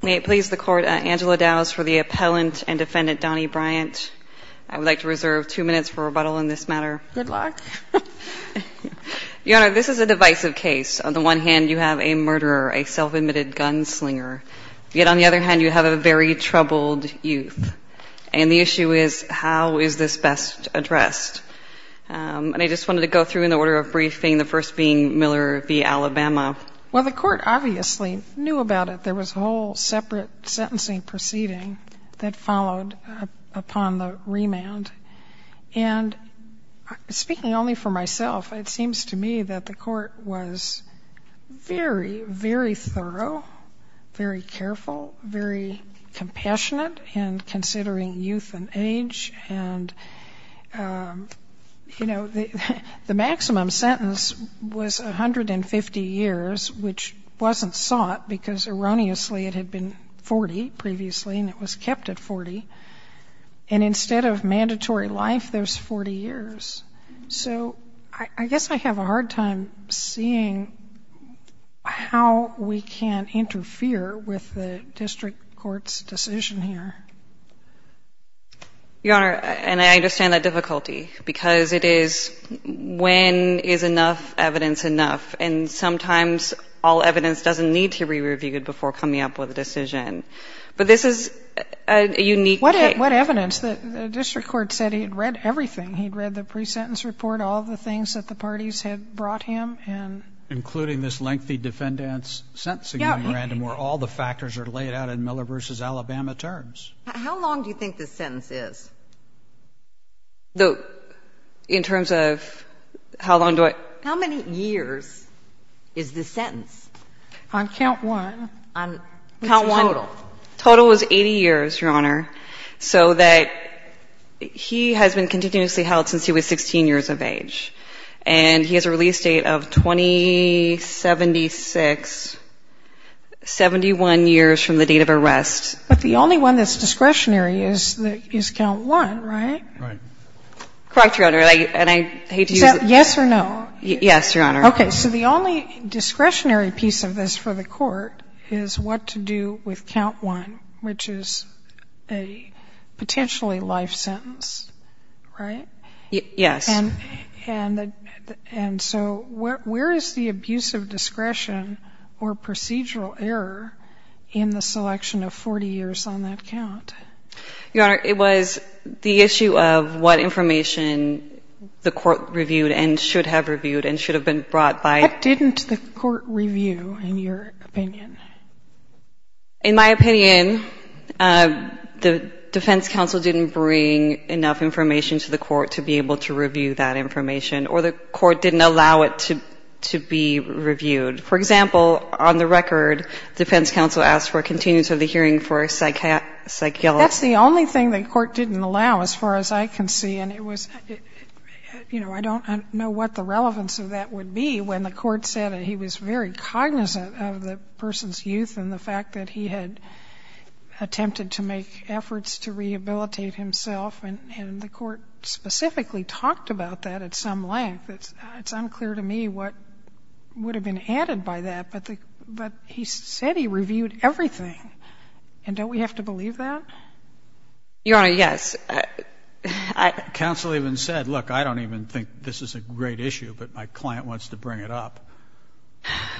May it please the Court, Angela Dowes for the appellant and defendant Donnie Bryant. I would like to reserve two minutes for rebuttal in this matter. Good luck. Your Honor, this is a divisive case. On the one hand, you have a murderer, a self-admitted gunslinger. Yet on the other hand, you have a very troubled youth. And the issue is, how is this best addressed? And I just wanted to go through in the order of briefing, the first being Miller v. Alabama. Well, the Court obviously knew about it. There was a whole separate sentencing proceeding that followed upon the remand. And speaking only for myself, it seems to me that the Court was very, very thorough, very careful, very compassionate in considering youth and age. And, you know, the maximum sentence was 150 years, which wasn't sought, because erroneously it had been 40 previously and it was kept at 40. And instead of mandatory life, there's 40 years. So I guess I have a hard time seeing how we can interfere with the district court's decision here. Your Honor, and I understand the difficulty, because it is when is enough evidence enough? And sometimes all evidence doesn't need to be reviewed before coming up with a decision. But this is a unique case. What evidence? The district court said he had read everything. He had read the pre-sentence report, all the things that the parties had brought him. Including this lengthy defendant's sentencing memorandum where all the factors are laid out in Miller v. Alabama terms. How long do you think this sentence is? In terms of how long do I? How many years is this sentence? On count one. On count one. What's the total? Total was 80 years, Your Honor, so that he has been continuously held since he was 16 years of age. And he has a release date of 2076, 71 years from the date of arrest. But the only one that's discretionary is count one, right? Right. Correct, Your Honor. And I hate to use it. Is that yes or no? Yes, Your Honor. Okay. So the only discretionary piece of this for the court is what to do with count one, which is a potentially life sentence, right? Yes. And so where is the abuse of discretion or procedural error in the selection of 40 years on that count? Your Honor, it was the issue of what information the court reviewed and should have reviewed and should have been brought by. What didn't the court review, in your opinion? In my opinion, the defense counsel didn't bring enough information to the court to be able to review that information, or the court didn't allow it to be reviewed. For example, on the record, defense counsel asked for a continuity of the hearing for a psychiatrist. That's the only thing the court didn't allow, as far as I can see, and it was, you know, I don't know what the relevance of that would be when the court said he was very cognizant of the person's youth and the fact that he had attempted to make efforts to rehabilitate himself, and the court specifically talked about that at some length. It's unclear to me what would have been added by that, but he said he reviewed everything, and don't we have to believe that? Your Honor, yes. Counsel even said, look, I don't even think this is a great issue, but my client wants to bring it up.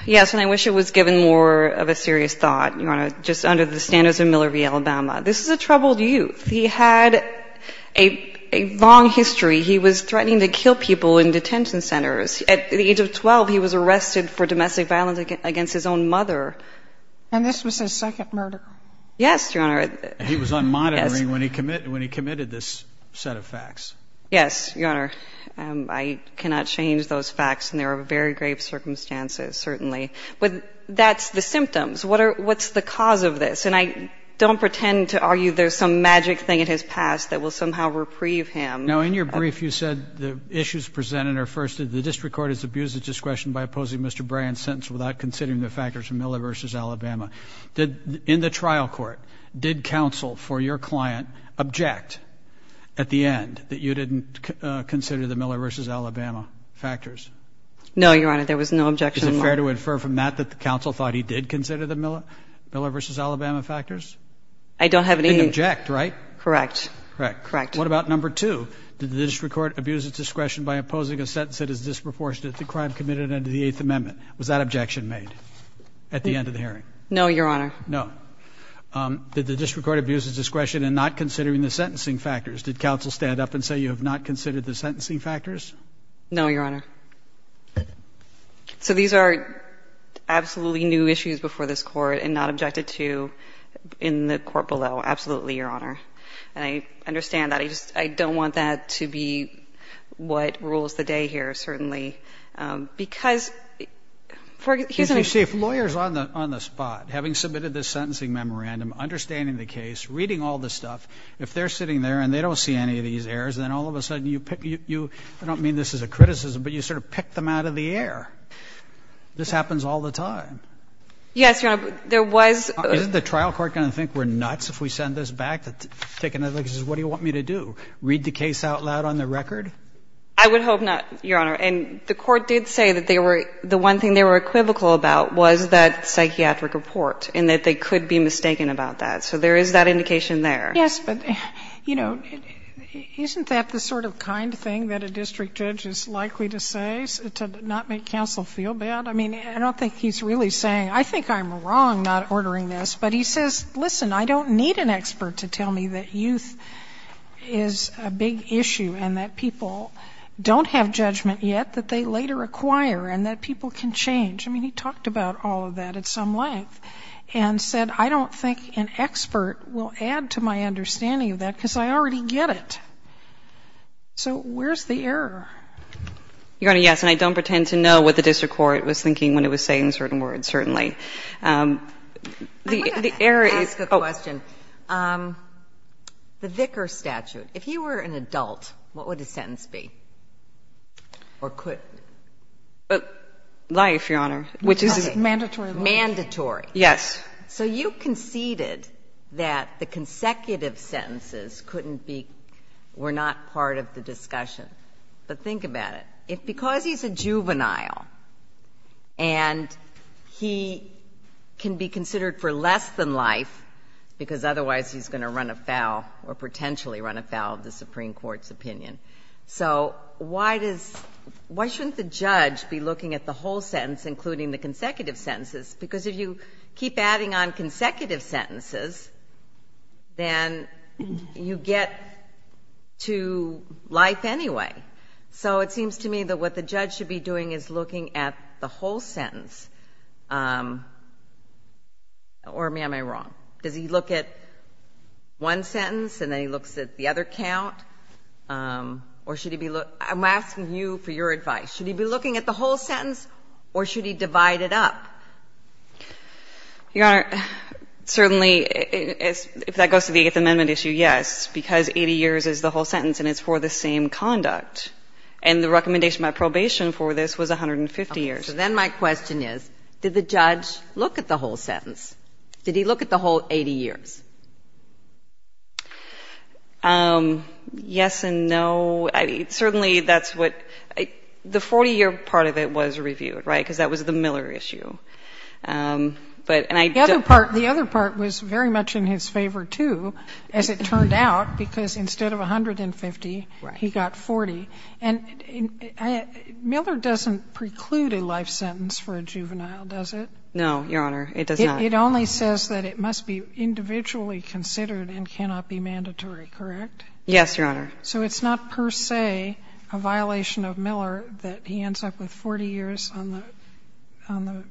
Yes, and I wish it was given more of a serious thought, Your Honor, just under the standards of Miller v. Alabama. This is a troubled youth. He had a long history. He was threatening to kill people in detention centers. At the age of 12, he was arrested for domestic violence against his own mother. And this was his second murder? Yes, Your Honor. And he was on monitoring when he committed this set of facts. Yes, Your Honor. I cannot change those facts, and there are very grave circumstances, certainly. But that's the symptoms. What's the cause of this? And I don't pretend to argue there's some magic thing in his past that will somehow reprieve him. Now, in your brief, you said the issues presented are, first, the district court has abused its discretion by opposing Mr. Bryan's sentence without considering the factors of Miller v. Alabama. In the trial court, did counsel for your client object at the end that you didn't consider the Miller v. Alabama factors? No, Your Honor, there was no objection. Is it fair to infer from that that the counsel thought he did consider the Miller v. Alabama factors? I don't have any. He didn't object, right? Correct. Correct. What about number two? Did the district court abuse its discretion by opposing a sentence that is disproportionate to the crime committed under the Eighth Amendment? Was that objection made at the end of the hearing? No, Your Honor. No. Did the district court abuse its discretion in not considering the sentencing factors? Did counsel stand up and say you have not considered the sentencing factors? No, Your Honor. So these are absolutely new issues before this Court and not objected to in the Court below, absolutely, Your Honor. And I understand that. I just don't want that to be what rules the day here, certainly, because here's an issue. You see, if lawyers on the spot, having submitted this sentencing memorandum, understanding the case, reading all this stuff, if they're sitting there and they don't see any of these errors, then all of a sudden you pick you – I don't mean this as a criticism, but you sort of pick them out of the air. This happens all the time. Yes, Your Honor. There was – Isn't the trial court going to think we're nuts if we send this back, take another look and say what do you want me to do, read the case out loud on the record? I would hope not, Your Honor. And the Court did say that they were – the one thing they were equivocal about was that psychiatric report and that they could be mistaken about that. So there is that indication there. Yes, but, you know, isn't that the sort of kind thing that a district judge is likely to say to not make counsel feel bad? I mean, I don't think he's really saying – I think I'm wrong not ordering this, but he says, listen, I don't need an expert to tell me that youth is a big issue and that people don't have judgment yet that they later acquire and that people can change. I mean, he talked about all of that at some length and said, I don't think an expert will add to my understanding of that because I already get it. So where's the error? Your Honor, yes, and I don't pretend to know what the district court was thinking when it was saying certain words, certainly. The error is – Or could. Life, Your Honor, which is mandatory. Mandatory. Yes. So you conceded that the consecutive sentences couldn't be – were not part of the discussion. But think about it. If because he's a juvenile and he can be considered for less than life because otherwise he's going to run afoul or potentially run afoul of the Supreme Court's opinion. So why does – why shouldn't the judge be looking at the whole sentence, including the consecutive sentences? Because if you keep adding on consecutive sentences, then you get to life anyway. So it seems to me that what the judge should be doing is looking at the whole sentence. Or am I wrong? Does he look at one sentence and then he looks at the other count? Or should he be – I'm asking you for your advice. Should he be looking at the whole sentence or should he divide it up? Your Honor, certainly, if that goes to the Eighth Amendment issue, yes, because 80 years is the whole sentence and it's for the same conduct. And the recommendation by probation for this was 150 years. Okay. So then my question is, did the judge look at the whole sentence? Did he look at the whole 80 years? Yes and no. Certainly, that's what – the 40-year part of it was reviewed, right, because that was the Miller issue. The other part was very much in his favor, too, as it turned out, because instead of 150, he got 40. And Miller doesn't preclude a life sentence for a juvenile, does it? No, Your Honor, it does not. It only says that it must be individually considered and cannot be mandatory, correct? Yes, Your Honor. So it's not per se a violation of Miller that he ends up with 40 years on the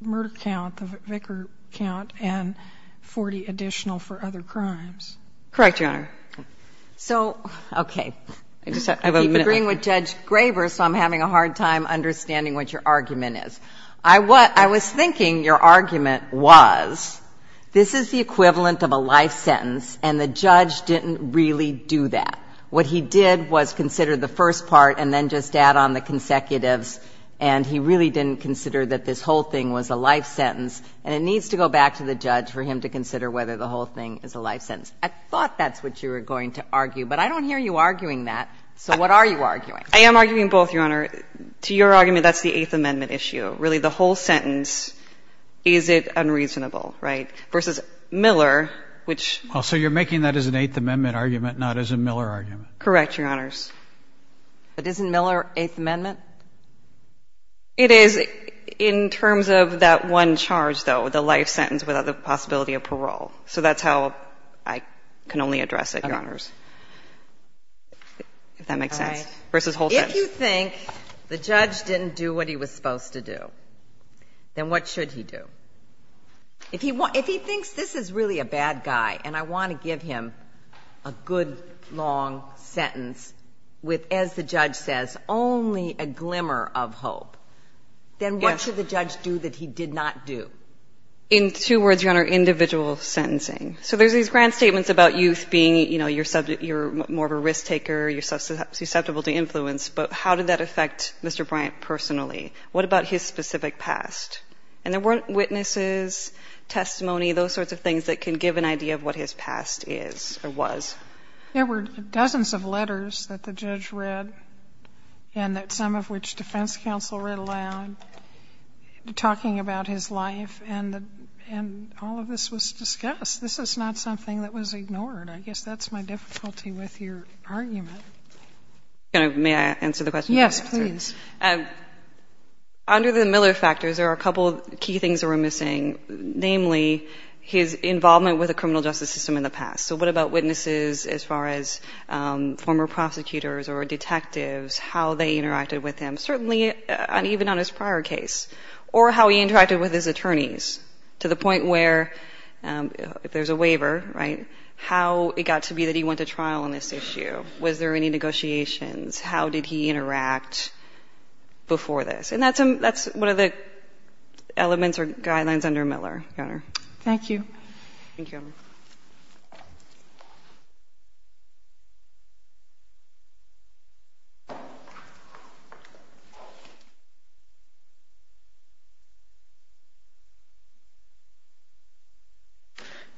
murder count, the vicar count, and 40 additional for other crimes? Correct, Your Honor. So – okay. I just have a minute. You're agreeing with Judge Graber, so I'm having a hard time understanding what your argument is. I was thinking your argument was this is the equivalent of a life sentence, and the judge didn't really do that. What he did was consider the first part and then just add on the consecutives, and he really didn't consider that this whole thing was a life sentence, and it needs to go back to the judge for him to consider whether the whole thing is a life sentence. I thought that's what you were going to argue, but I don't hear you arguing that. So what are you arguing? I am arguing both, Your Honor. To your argument, that's the Eighth Amendment issue. Really, the whole sentence, is it unreasonable, right, versus Miller, which – Well, so you're making that as an Eighth Amendment argument, not as a Miller argument. Correct, Your Honors. But isn't Miller Eighth Amendment? It is in terms of that one charge, though, the life sentence without the possibility of parole. So that's how I can only address it, Your Honors, if that makes sense, versus whole sentence. If you think the judge didn't do what he was supposed to do, then what should he do? If he thinks this is really a bad guy and I want to give him a good, long sentence with, as the judge says, only a glimmer of hope, then what should the judge do that he did not do? In two words, Your Honor, individual sentencing. So there's these grand statements about youth being, you know, you're more of a risk taker, you're susceptible to influence, but how did that affect Mr. Bryant personally? What about his specific past? And there weren't witnesses, testimony, those sorts of things that can give an idea of what his past is or was. There were dozens of letters that the judge read, and that some of which defense counsel read aloud, talking about his life, and all of this was discussed. This is not something that was ignored. I guess that's my difficulty with your argument. May I answer the question? Yes, please. Under the Miller factors, there are a couple of key things that we're missing, namely his involvement with the criminal justice system in the past. So what about witnesses as far as former prosecutors or detectives, how they interacted with him, certainly even on his prior case, or how he interacted with his trial on this issue? Was there any negotiations? How did he interact before this? And that's one of the elements or guidelines under Miller, Your Honor. Thank you. Thank you.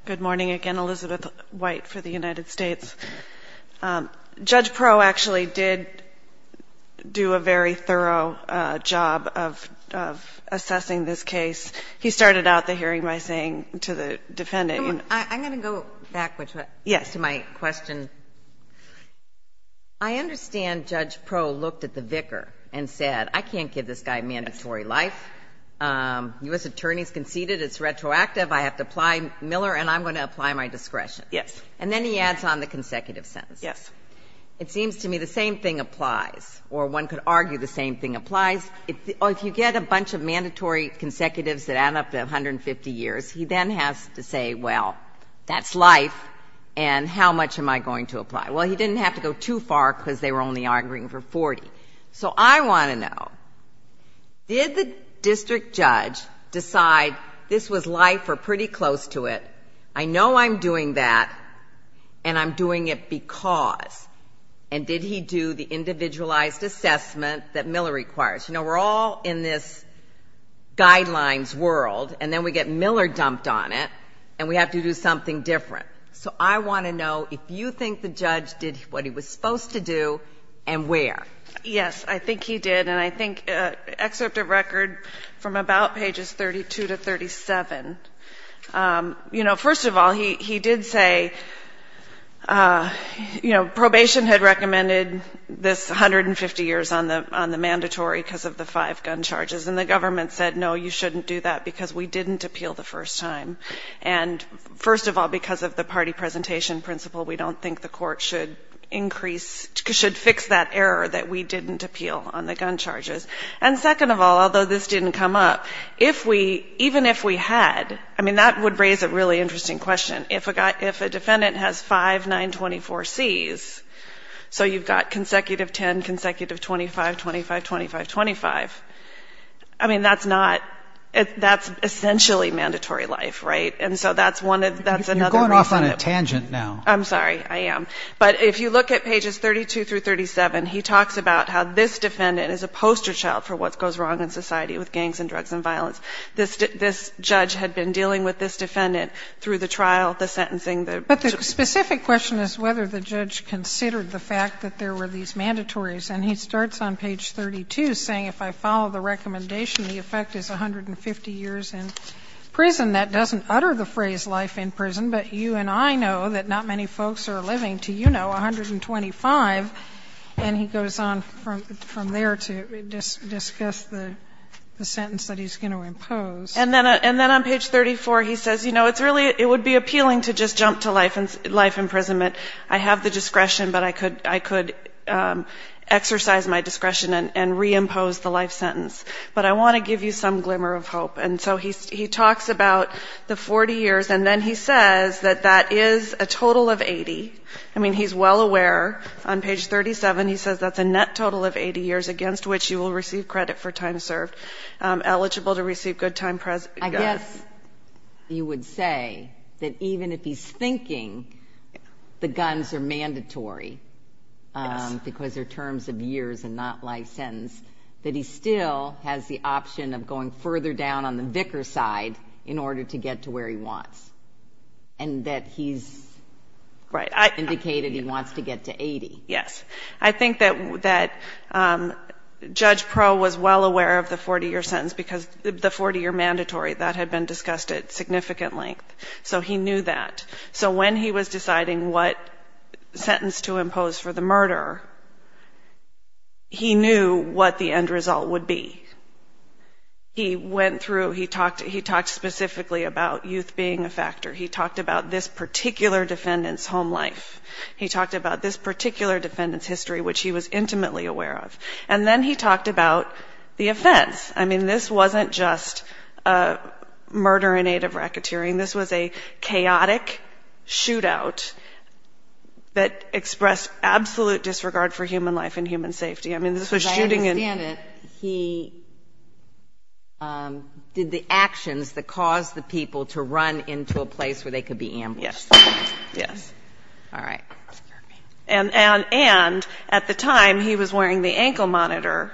Good morning. Again, Elizabeth White for the United States. Judge Perot actually did do a very thorough job of assessing this case. He started out the hearing by saying to the defendant, you know what? I'm going to go backwards to my question. I understand Judge Perot looked at the vicar and said, I can't give this guy mandatory life. U.S. attorneys conceded it's retroactive. I have to apply Miller, and I'm going to apply my discretion. Yes. And then he adds on the consecutive sentence. Yes. It seems to me the same thing applies, or one could argue the same thing applies. If you get a bunch of mandatory consecutives that add up to 150 years, he then has to say, well, that's life, and how much am I going to apply? Well, he didn't have to go too far because they were only arguing for 40. So I want to know, did the district judge decide this was life or pretty close to it? I know I'm doing that, and I'm doing it because. And did he do the individualized assessment that Miller requires? You know, we're all in this guidelines world, and then we get Miller dumped on it, and we have to do something different. So I want to know if you think the judge did what he was supposed to do and where. Yes, I think he did, and I think excerpt of record from about pages 32 to 37, you know, first of all, he did say, you know, probation had recommended this 150 years on the mandatory because of the five gun charges, and the government said, no, you shouldn't do that because we didn't appeal the first time. And first of all, because of the party presentation principle, we don't think the court should increase, should fix that error that we didn't appeal on the gun charges. And second of all, although this didn't come up, if we, even if we had, I mean, that would raise a really interesting question. If a defendant has five 924Cs, so you've got consecutive 10, consecutive 25, 25, 25, 25, I mean, that's not, that's essentially mandatory life, right? And so that's one of, that's another reason. You're going off on a tangent now. I'm sorry, I am. But if you look at pages 32 through 37, he talks about how this defendant is a poster child for what goes wrong in society with gangs and drugs and violence. This judge had been dealing with this defendant through the trial, the sentencing. But the specific question is whether the judge considered the fact that there were these mandatories. And he starts on page 32 saying, if I follow the recommendation, the effect is 150 years in prison. That doesn't utter the phrase life in prison, but you and I know that not many folks are living, to you know, 125, and he goes on from there to discuss the sentence that he's going to impose. And then on page 34 he says, you know, it's really, it would be appealing to just jump to life imprisonment. I have the discretion, but I could exercise my discretion and reimpose the life sentence. But I want to give you some glimmer of hope. And so he talks about the 40 years, and then he says that that is a total of 80. I mean, he's well aware. On page 37 he says that's a net total of 80 years against which you will receive credit for time served. Eligible to receive good time. I guess you would say that even if he's thinking the guns are mandatory because they're terms of years and not life sentence, that he still has the option of going further down on the vicar side in order to get to where he wants. And that he's indicated he wants to get to 80. Yes. I think that Judge Proulx was well aware of the 40-year sentence because the 40-year mandatory, that had been discussed at significant length. So he knew that. So when he was deciding what sentence to impose for the murder, he knew what the end result would be. He went through, he talked specifically about youth being a factor. He talked about this particular defendant's home life. He talked about this particular defendant's history, which he was intimately aware of. And then he talked about the offense. I mean, this wasn't just a murder in aid of racketeering. This was a chaotic shootout that expressed absolute disregard for human life and human safety. I mean, this was shooting in. As I understand it, he did the actions that caused the people to run into a place where they could be ambushed. Yes. All right. And at the time, he was wearing the ankle monitor,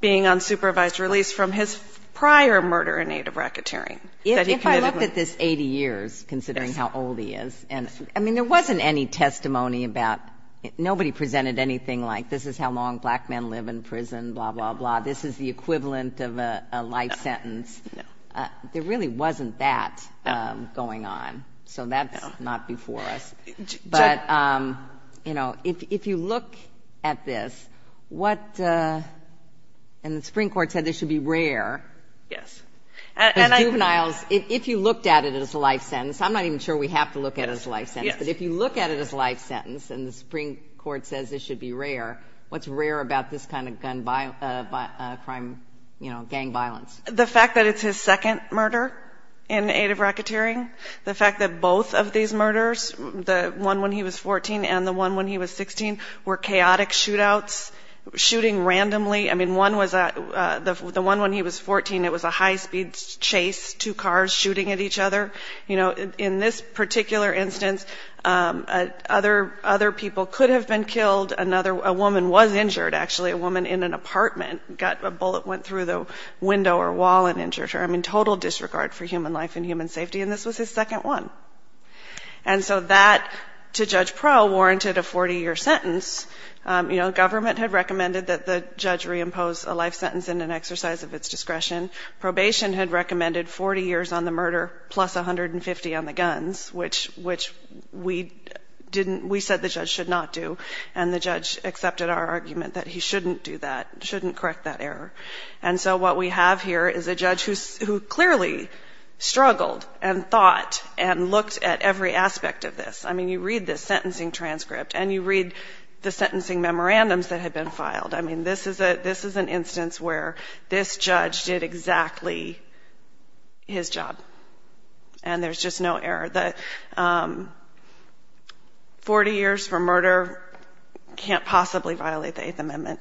being on supervised release from his prior murder in aid of racketeering. If I looked at this 80 years, considering how old he is, I mean, there wasn't any testimony about, nobody presented anything like, this is how long black men live in prison, blah, blah, blah. This is the equivalent of a life sentence. No. There really wasn't that going on. So that's not before us. But, you know, if you look at this, what, and the Supreme Court said this should be rare. Yes. Because juveniles, if you looked at it as a life sentence, I'm not even sure we have to look at it as a life sentence, but if you look at it as a life sentence, and the Supreme Court says this should be rare, what's rare about this kind of crime, you know, gang violence? The fact that it's his second murder in aid of racketeering, the fact that both of these murders, the one when he was 14 and the one when he was 16, were chaotic shootouts, shooting randomly. I mean, one was, the one when he was 14, it was a high-speed chase, two cars shooting at each other. You know, in this particular instance, other people could have been killed. A woman was injured, actually. A woman in an apartment, a bullet went through the window or wall and injured her. I mean, total disregard for human life and human safety, and this was his second one. And so that, to Judge Prowl, warranted a 40-year sentence. You know, government had recommended that the judge reimpose a life sentence in an exercise of its discretion. Probation had recommended 40 years on the murder plus 150 on the guns, which we didn't, we said the judge should not do, and the judge accepted our argument that he shouldn't do that, shouldn't correct that error. And so what we have here is a judge who clearly struggled and thought and looked at every aspect of this. I mean, you read this sentencing transcript and you read the sentencing memorandums that had been filed. I mean, this is an instance where this judge did exactly his job, and there's just no error. The 40 years for murder can't possibly violate the Eighth Amendment,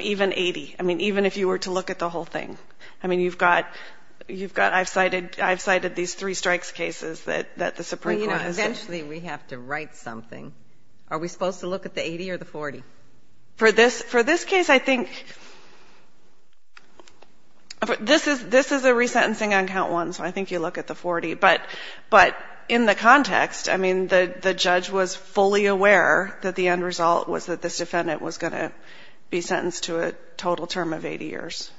even 80. I mean, even if you were to look at the whole thing. I mean, you've got, you've got, I've cited, I've cited these three strikes cases that the Supreme Court has cited. Well, you know, eventually we have to write something. Are we supposed to look at the 80 or the 40? For this, for this case, I think, this is, this is a resentencing on count one, so I think you look at the 40. But in the context, I mean, the judge was fully aware that the end result was that this defendant was going to be sentenced to a total term of 80 years.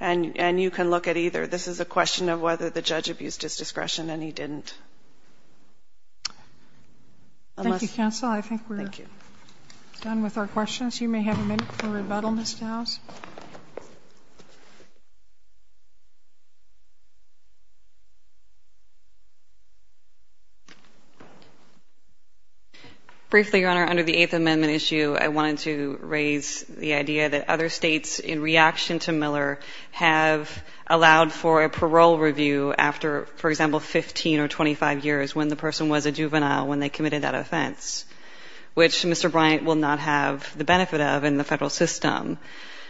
And you can look at either. This is a question of whether the judge abused his discretion, and he didn't. Unless. Thank you, counsel. I think we're done with our questions. You may have a minute for rebuttal, Ms. Dowse. Briefly, Your Honor, under the Eighth Amendment issue, I wanted to raise the idea that other states, in reaction to Miller, have allowed for a parole review after, for example, 15 or 25 years, when the person was a juvenile, when they committed that offense, which Mr. Bryant will not have the benefit of in the federal system.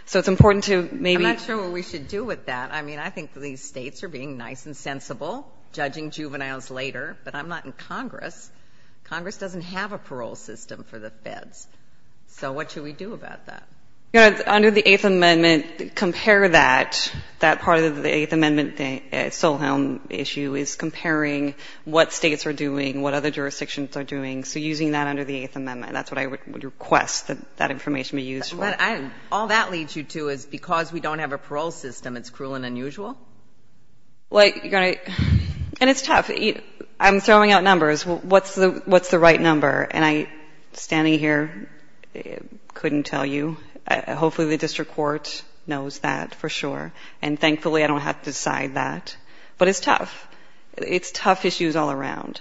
So it's important to maybe. I'm not sure what we should do with that. I mean, I think these states are being nice and sensible, judging juveniles later. But I'm not in Congress. Congress doesn't have a parole system for the feds. So what should we do about that? Your Honor, under the Eighth Amendment, compare that, that part of the Eighth Amendment Solheim issue is comparing what states are doing, what other jurisdictions are doing. So using that under the Eighth Amendment, that's what I would request that that information be used for. All that leads you to is because we don't have a parole system, it's cruel and unusual? Well, Your Honor, and it's tough. I'm throwing out numbers. What's the right number? And I, standing here, couldn't tell you. Hopefully, the district court knows that for sure. And thankfully, I don't have to decide that. But it's tough. It's tough issues all around.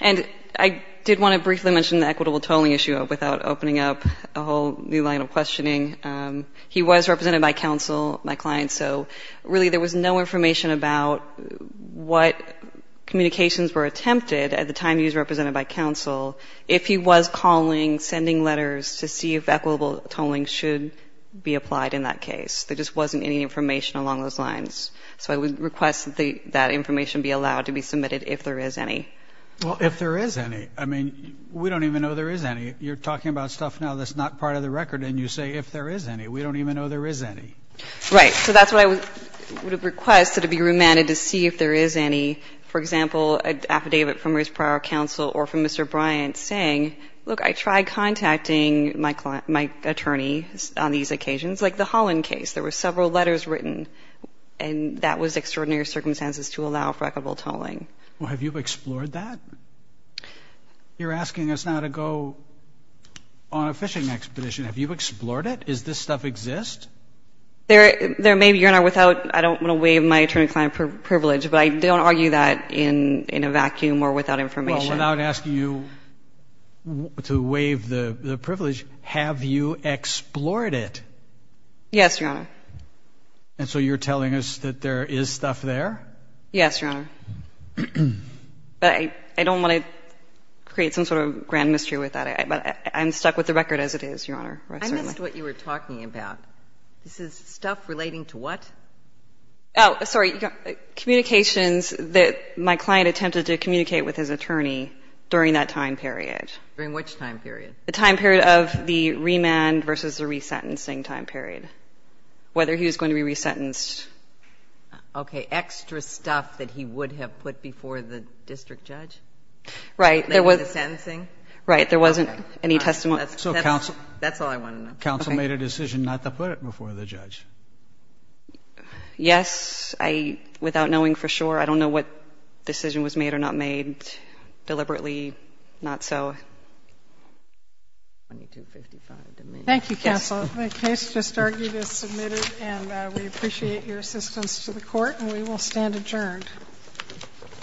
And I did want to briefly mention the equitable tolling issue without opening up a whole new line of questioning. He was represented by counsel, my client. So really, there was no information about what communications were attempted at the time he was represented by counsel if he was calling, sending letters to see if equitable tolling should be applied in that case. There just wasn't any information along those lines. So I would request that that information be allowed to be submitted if there is any. Well, if there is any. I mean, we don't even know there is any. You're talking about stuff now that's not part of the record, and you say if there is any. We don't even know there is any. Right. So that's what I would request, that it be remanded to see if there is any. For example, an affidavit from his prior counsel or from Mr. Bryant saying, look, I tried contacting my attorney on these occasions. Like the Holland case, there were several letters written, and that was extraordinary circumstances to allow for equitable tolling. Well, have you explored that? You're asking us now to go on a fishing expedition. Have you explored it? Does this stuff exist? There may be. You're not without. I don't want to waive my attorney-client privilege, but I don't argue that in a vacuum or without information. Well, without asking you to waive the privilege, have you explored it? Yes, Your Honor. And so you're telling us that there is stuff there? Yes, Your Honor. But I don't want to create some sort of grand mystery with that, but I'm stuck with the record as it is, Your Honor. I missed what you were talking about. This is stuff relating to what? Oh, sorry. Communications that my client attempted to communicate with his attorney during that time period. During which time period? The time period of the remand versus the resentencing time period, whether he was going to be resentenced. Okay. Extra stuff that he would have put before the district judge? Right. The sentencing? Right. There wasn't any testimony. That's all I want to know. Counsel made a decision not to put it before the judge. Yes. I, without knowing for sure, I don't know what decision was made or not made deliberately, not so. Thank you, counsel. The case just argued is submitted and we appreciate your assistance to the court and we will stand adjourned. All rise. Thank you, counsel. Ms. Clarke, for this special stand adjourned.